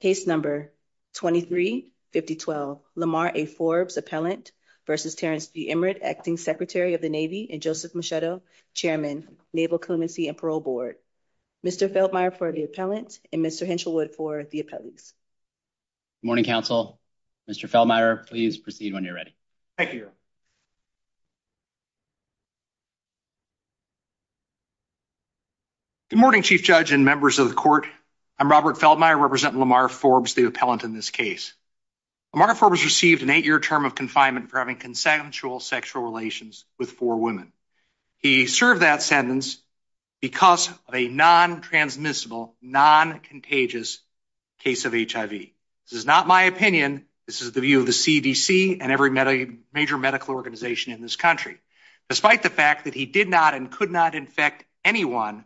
Case No. 23-5012 Lamar A. Forbes, Appellant, v. Terrence B. Emeritt, Acting Secretary of the Navy, and Joseph Machetto, Chairman, Naval Clemency and Parole Board. Mr. Feldmeier for the Appellant, and Mr. Henshelwood for the Appellees. Good morning, Counsel. Mr. Feldmeier, please proceed when you're ready. Thank you. Good morning, Chief Judge and members of the Court. I'm Robert Feldmeier, representing Lamar Forbes, the Appellant in this case. Lamar Forbes received an eight-year term of confinement for having consensual sexual relations with four women. He served that sentence because of a non-transmissible, non-contagious case of HIV. This is not my opinion. This is the view of the CDC and every major medical organization in this country. Despite the fact that he did not and could not infect anyone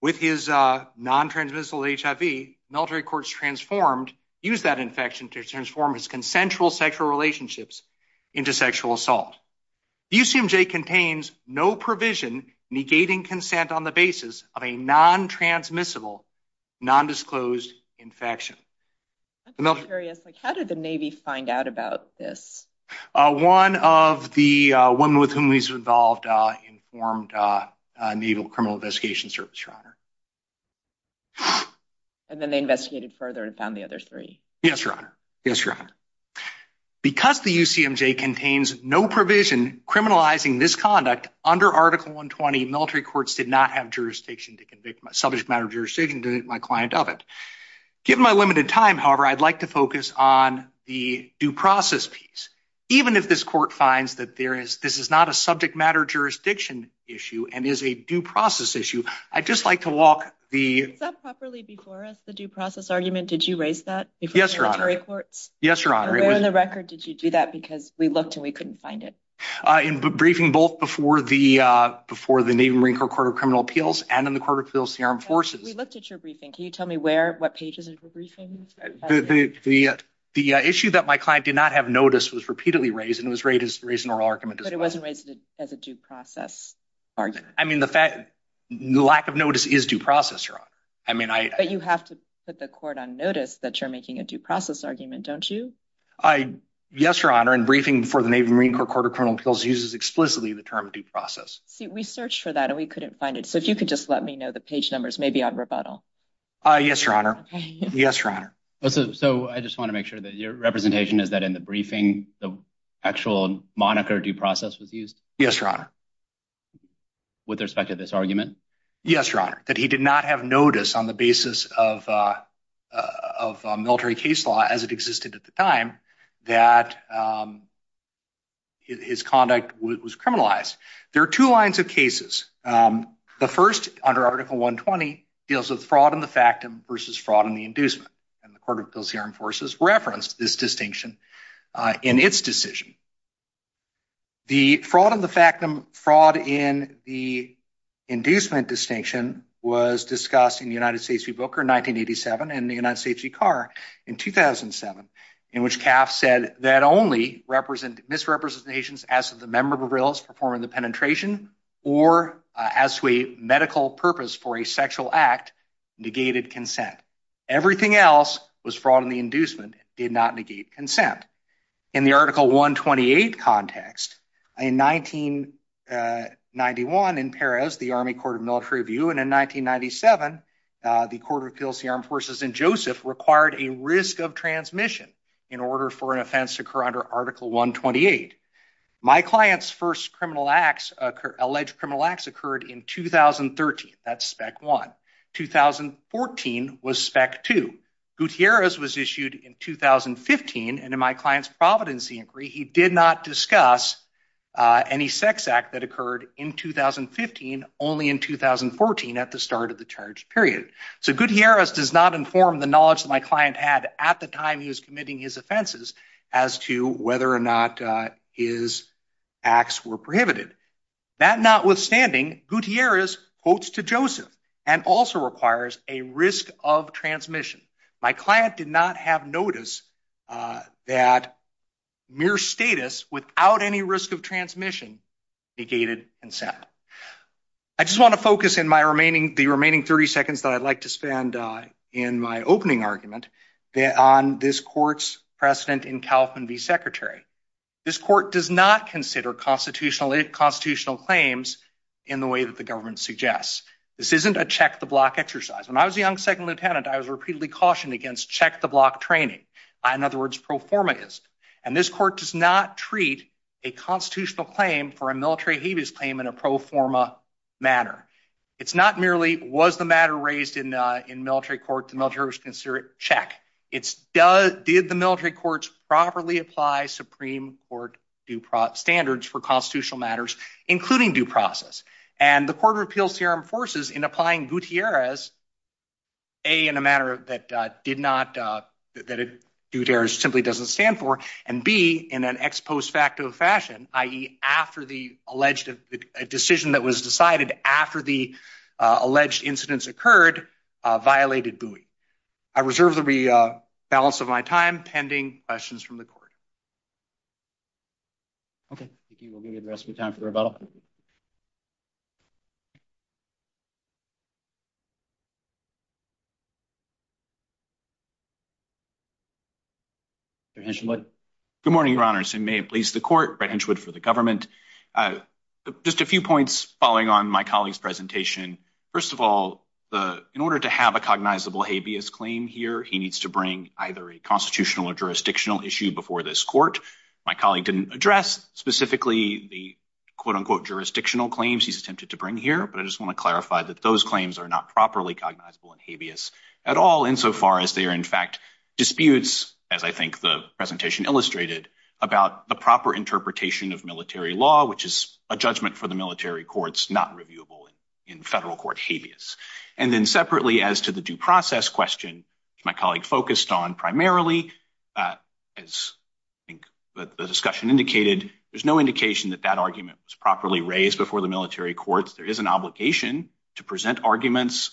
with his non-transmissible HIV, military courts transformed, used that infection to transform his consensual sexual relationships into sexual assault. The UCMJ contains no provision negating consent on the basis of a non-transmissible, non-disclosed infection. I'm curious, like how did the Navy find out about this? One of the women with whom he's involved informed Naval Criminal Investigation Service, Your And then they investigated further and found the other three. Yes, Your Honor. Yes, Your Honor. Because the UCMJ contains no provision criminalizing this conduct, under Article 120, military courts did not have jurisdiction to convict my subject matter jurisdiction to my client of it. Given my limited time, however, I'd like to focus on the due process piece. Even if this court finds that there is, this is not a subject matter jurisdiction issue and is a due process issue, I'd just like to walk the- Was that properly before us, the due process argument? Did you raise that? Yes, Your Honor. Before the military courts? Yes, Your Honor. And where in the record did you do that? Because we looked and we couldn't find it. In briefing both before the Navy and Marine Corps Court of Criminal Appeals and in the Court of Criminal Appeals to the Armed Forces. We looked at your briefing. Can you tell me where, what pages of your briefing? The issue that my client did not have notice was repeatedly raised and it was raised in oral argument as well. But it wasn't raised as a due process argument? I mean, the fact, the lack of notice is due process, Your Honor. I mean, I- But you have to put the court on notice that you're making a due process argument, don't you? I, yes, Your Honor. In briefing before the Navy and Marine Corps Court of Criminal Appeals uses explicitly the term due process. See, we searched for that and we couldn't find it. So if you could just let me know the page numbers, maybe on rebuttal. Yes, Your Honor. Okay. Yes, Your Honor. So I just want to make sure that your representation is that in the briefing, the actual moniker due process was used? Yes, Your Honor. With respect to this argument? Yes, Your Honor. That he did not have notice on the basis of military case law as it existed at the time that his conduct was criminalized. There are two lines of cases. The first, under Article 120, deals with fraud in the factum versus fraud in the inducement. And the Court of Appeals here enforces reference to this distinction in its decision. The fraud in the factum, fraud in the inducement distinction was discussed in the United States Rebooker in 1987 and the United States Recard in 2007, in which Kaff said that only misrepresentations as to the member of a realist performing the penetration or as to a medical purpose for a sexual act negated consent. Everything else was fraud in the inducement, did not negate consent. In the Article 128 context, in 1991 in Perez, the Army Court of Military Review and in 1997, the Court of Appeals here enforces in Joseph required a risk of transmission in order for an offense to occur under Article 128. My client's first alleged criminal acts occurred in 2013, that's spec one. 2014 was spec two. Gutierrez was issued in 2015 and in my client's Providency Inquiry, he did not discuss any sex act that occurred in 2015, only in 2014 at the start of the charge period. So Gutierrez does not inform the knowledge that my client had at the time he was committing his offenses as to whether or not his acts were prohibited. That notwithstanding, Gutierrez quotes to Joseph and also requires a risk of transmission. My client did not have notice that mere status without any risk of transmission negated consent. I just want to focus in the remaining 30 seconds that I'd like to spend in my opening argument on this court's precedent in Kaufman v. Secretary. This court does not consider constitutional claims in the way that the government suggests. This isn't a check-the-block exercise. When I was a young second lieutenant, I was repeatedly cautioned against check-the-block training. In other words, pro forma is. And this court does not treat a constitutional claim for a military habeas claim in a pro forma manner. It's not merely was the matter raised in military court, the military was considered, check. Did the military courts properly apply Supreme Court standards for constitutional matters, including due process? And the Court of Appeals here enforces in applying Gutierrez, A, in a manner that did not, that Gutierrez simply doesn't stand for, and B, in an ex post facto fashion, i.e. after the alleged, a decision that was decided after the alleged incidents occurred, violated GUI. I reserve the balance of my time pending questions from the court. Okay. Thank you. We'll give you the rest of the time for the rebuttal. Mr. Hinchwood. Good morning, Your Honors. And may it please the court, Brett Hinchwood for the government. Just a few points following on my colleague's presentation. First of all, in order to have a cognizable habeas claim here, he needs to bring either a constitutional or jurisdictional issue before this court. My colleague didn't address specifically the quote unquote jurisdictional claims he's attempted to bring here. But I just want to clarify that those claims are not properly cognizable and habeas at all insofar as they are, in fact, disputes, as I think the presentation illustrated, about the proper interpretation of military law, which is a judgment for the military courts, not reviewable in federal court habeas. And then separately, as to the due process question, which my colleague focused on primarily, as the discussion indicated, there's no indication that that argument was properly raised before the military courts. There is an obligation to present arguments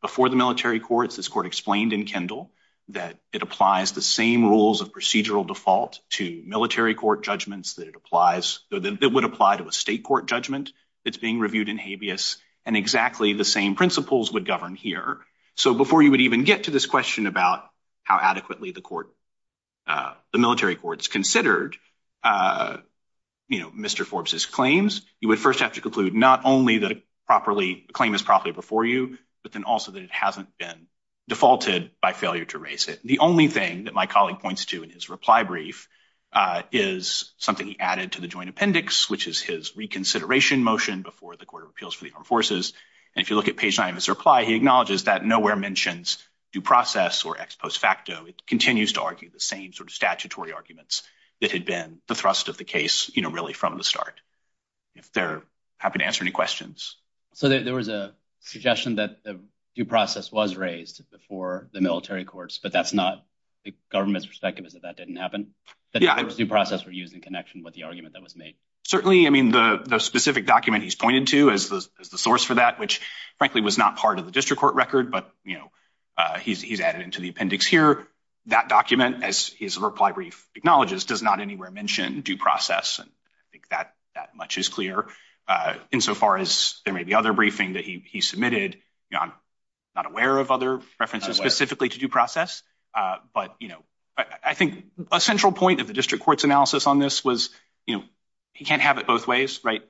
before the military courts. This court explained in Kendall that it applies the same rules of procedural default to military court judgments that it applies, that would apply to a state court judgment that's being reviewed in habeas. And exactly the same principles would govern here. So before you would even get to this question about how adequately the court, the military courts considered, you know, Mr. Forbes's claims, you would first have to conclude not only that a claim is properly before you, but then also that it hasn't been defaulted by failure to raise it. The only thing that my colleague points to in his reply brief is something he added to the joint appendix, which is his reconsideration motion before the Court of Appeals for the Armed Forces. And if you look at page nine of his reply, he acknowledges that nowhere mentions due process or ex post facto. It continues to argue the same sort of statutory arguments that had been the thrust of the case, you know, really from the start. If they're happy to answer any questions. So there was a suggestion that the due process was raised before the military courts, but that's not the government's perspective is that that didn't happen, that due process were used in connection with the argument that was made. Certainly. I mean, the specific document he's pointed to as the source for that, which frankly was not part of the district court record, but, you know, he's added into the appendix here. That document, as his reply brief acknowledges, does not anywhere mention due process. And I think that that much is clear insofar as there may be other briefing that he submitted. I'm not aware of other references specifically to due process, but, you know, I think a central point of the district court's analysis on this was, you know, he can't have it both ways. Right.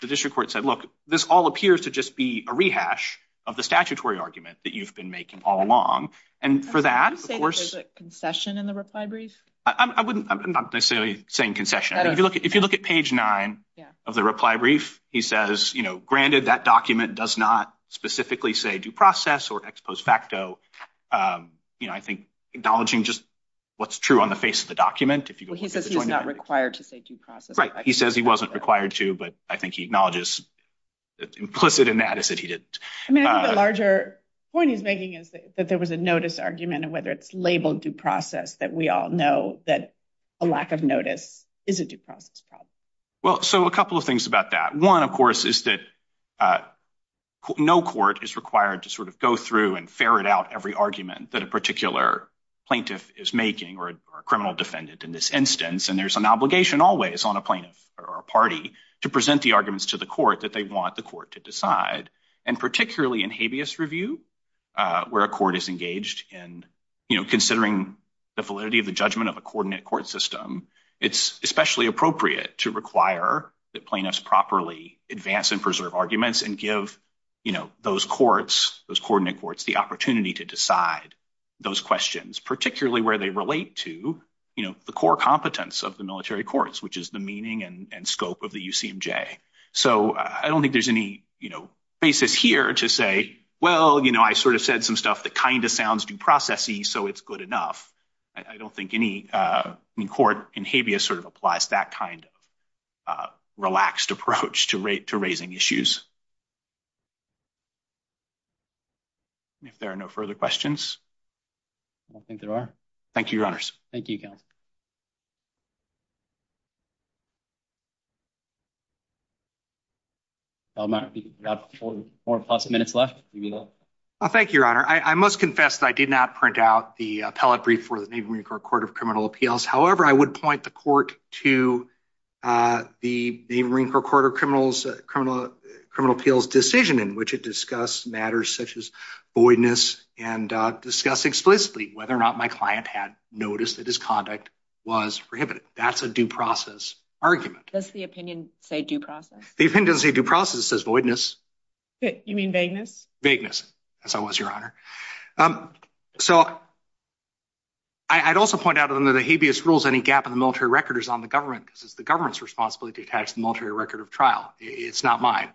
The district court said, look, this all appears to just be a rehash of the statutory argument that you've been making all along. And for that, of course, concession in the reply brief, I wouldn't necessarily saying concession. If you look at page nine of the reply brief, he says, you know, granted that document does not specifically say due process or ex post facto, you know, I think acknowledging just what's true on the face of the document, he says he's not required to say due process. Right. He says he wasn't required to. But I think he acknowledges implicit in that is that he didn't. I mean, the larger point he's making is that there was a notice argument and whether it's labeled due process, that we all know that a lack of notice is a due process problem. Well, so a couple of things about that. One, of course, is that no court is required to sort of go through and ferret out every argument that a particular plaintiff is making or a criminal defendant in this instance. And there's an obligation always on a plaintiff or a party to present the arguments to the court that they want the court to decide. And particularly in habeas review, where a court is engaged in, you know, considering the validity of the judgment of a coordinate court system, it's especially appropriate to require that plaintiffs properly advance and preserve arguments and give, you know, those courts, those coordinate courts, the opportunity to decide those questions, particularly where they relate to, you know, the core competence of the military courts, which is the meaning and scope of the UCMJ. So I don't think there's any, you know, basis here to say, well, you know, I sort of said some stuff that kind of sounds due process-y, so it's good enough. I don't think any court in habeas sort of applies that kind of relaxed approach to raising issues. If there are no further questions. I don't think there are. Thank you, your honors. Thank you, counsel. I'll be about four plus minutes left. Thank you, your honor. I must confess that I did not print out the appellate brief for the Navy Marine Corps Court of Criminal Appeals. However, I would point the court to the Marine Corps Court of Criminal Appeals decision in which it discussed matters such as voidness and discuss explicitly whether or not my client had noticed that his conduct was prohibited. That's a due process argument. Does the opinion say due process? The opinion doesn't say due process, it says voidness. You mean vagueness? Vagueness, as I was, your honor. So I'd also point out under the habeas rules, any gap in the military record is on the government because it's the government's responsibility to attach the military record of trial. It's not mine.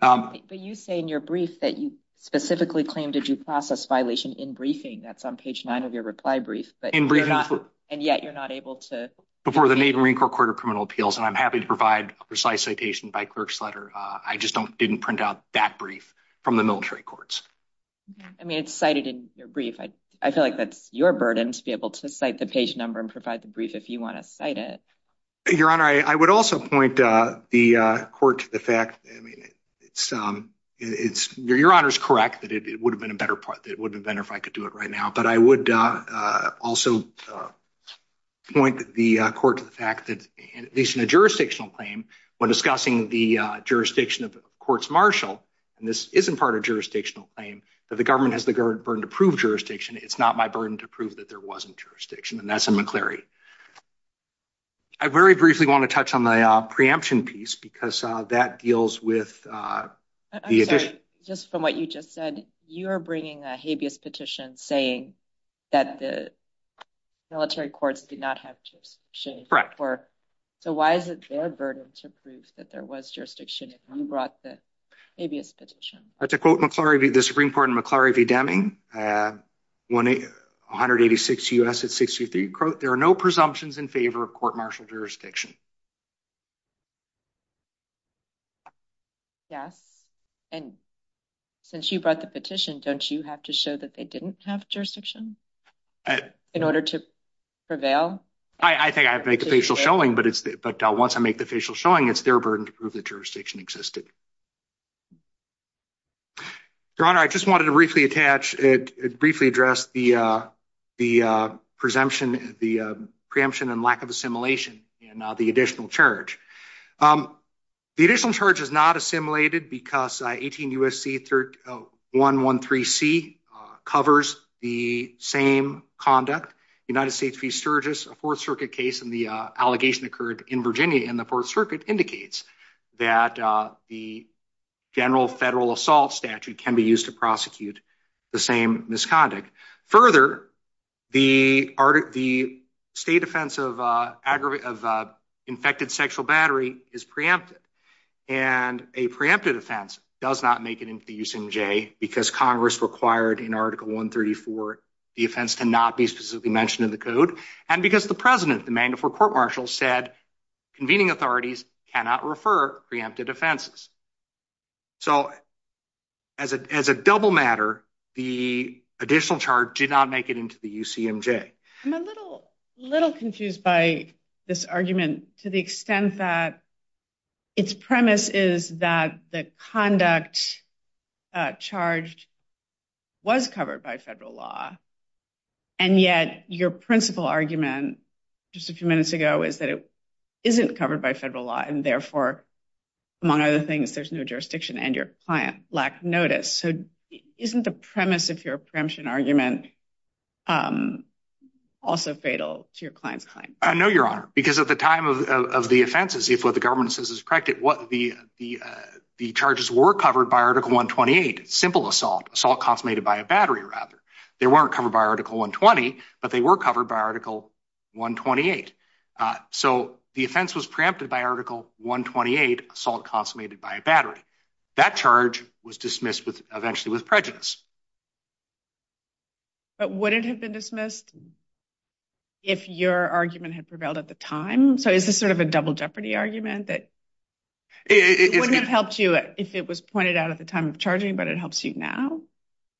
But you say in your brief that you specifically claimed a due process violation in briefing. That's on page nine of your reply brief. And yet you're not able to. Before the Navy Marine Corps Court of Criminal Appeals, and I'm happy to provide precise citation by clerk's letter. I just didn't print out that brief from the military courts. I mean, it's cited in your brief. I feel like that's your burden to be able to cite the page number and provide the brief if you want to cite it. Your honor, I would also point the court to the fact, I mean, it's your honor's correct that it would have been a better part. It would have been if I could do it right now. But I would also point the court to the fact that, at least in a jurisdictional claim, when discussing the jurisdiction of courts martial, and this isn't part of jurisdictional claim, that the government has the burden to prove jurisdiction. It's not my burden to prove that there wasn't jurisdiction. And that's in McCleary. I very briefly want to touch on the preemption piece because that deals with the addition. Just from what you just said, you are bringing a habeas petition saying that the military courts did not have jurisdiction. Correct. So why is it their burden to prove that there was jurisdiction if you brought the habeas petition? I have to quote the Supreme Court in McCleary v. Deming, 186 U.S. at 63, quote, there are no presumptions in favor of court martial jurisdiction. Yes. And since you brought the petition, don't you have to show that they didn't have jurisdiction in order to prevail? I think I make a facial showing, but once I make the facial showing, it's their burden to prove that jurisdiction existed. Your Honor, I just wanted to briefly attach, briefly address the preemption and lack of assimilation. And now the additional charge. The additional charge is not assimilated because 18 U.S.C. 113C covers the same conduct. United States v. Sturgis, a Fourth Circuit case, and the allegation occurred in Virginia in the Fourth Circuit, indicates that the general federal assault statute can be used to prosecute the same misconduct. Further, the state offense of infected sexual battery is preempted. And a preempted offense does not make it into the USMJ because Congress required in Article 134 the offense to not be specifically mentioned in the code. And because the president, the mandatory court martial, said convening authorities cannot refer preempted offenses. So as a double matter, the additional charge did not make it into the UCMJ. I'm a little confused by this argument to the extent that its premise is that the conduct charged was covered by federal law. And yet your principal argument just a few minutes ago is that it isn't covered by federal law and therefore, among other things, there's no jurisdiction and your client lacked notice. So isn't the premise of your preemption argument also fatal to your client's claim? I know, Your Honor, because at the time of the offenses, if what the government says is correct, the charges were covered by Article 128, simple assault, assault consummated by a battery rather. They weren't covered by Article 120, but they were covered by Article 128. So the offense was preempted by Article 128, assault consummated by a battery. That charge was dismissed eventually with prejudice. But would it have been dismissed if your argument had prevailed at the time? So is this sort of a double jeopardy argument that it wouldn't have helped you if it was pointed out at the time of charging, but it helps you now?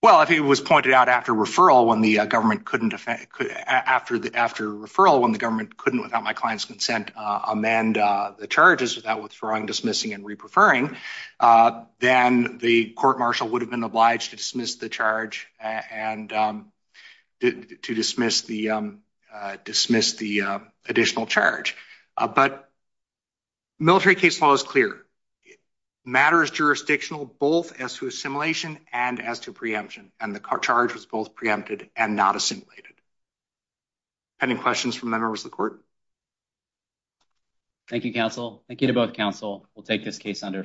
Well, if it was pointed out after referral when the government couldn't, after referral when the government couldn't, without my client's consent, amend the charges without withdrawing, dismissing, and re-preferring, then the court-martial would have been obliged to dismiss the charge and to dismiss the additional charge. But military case law is clear. Matter is jurisdictional both as to assimilation and as to preemption, and the charge was both preempted and not assimilated. Any questions from members of the court? Thank you, counsel. Thank you to both counsel. We'll take this case under submission.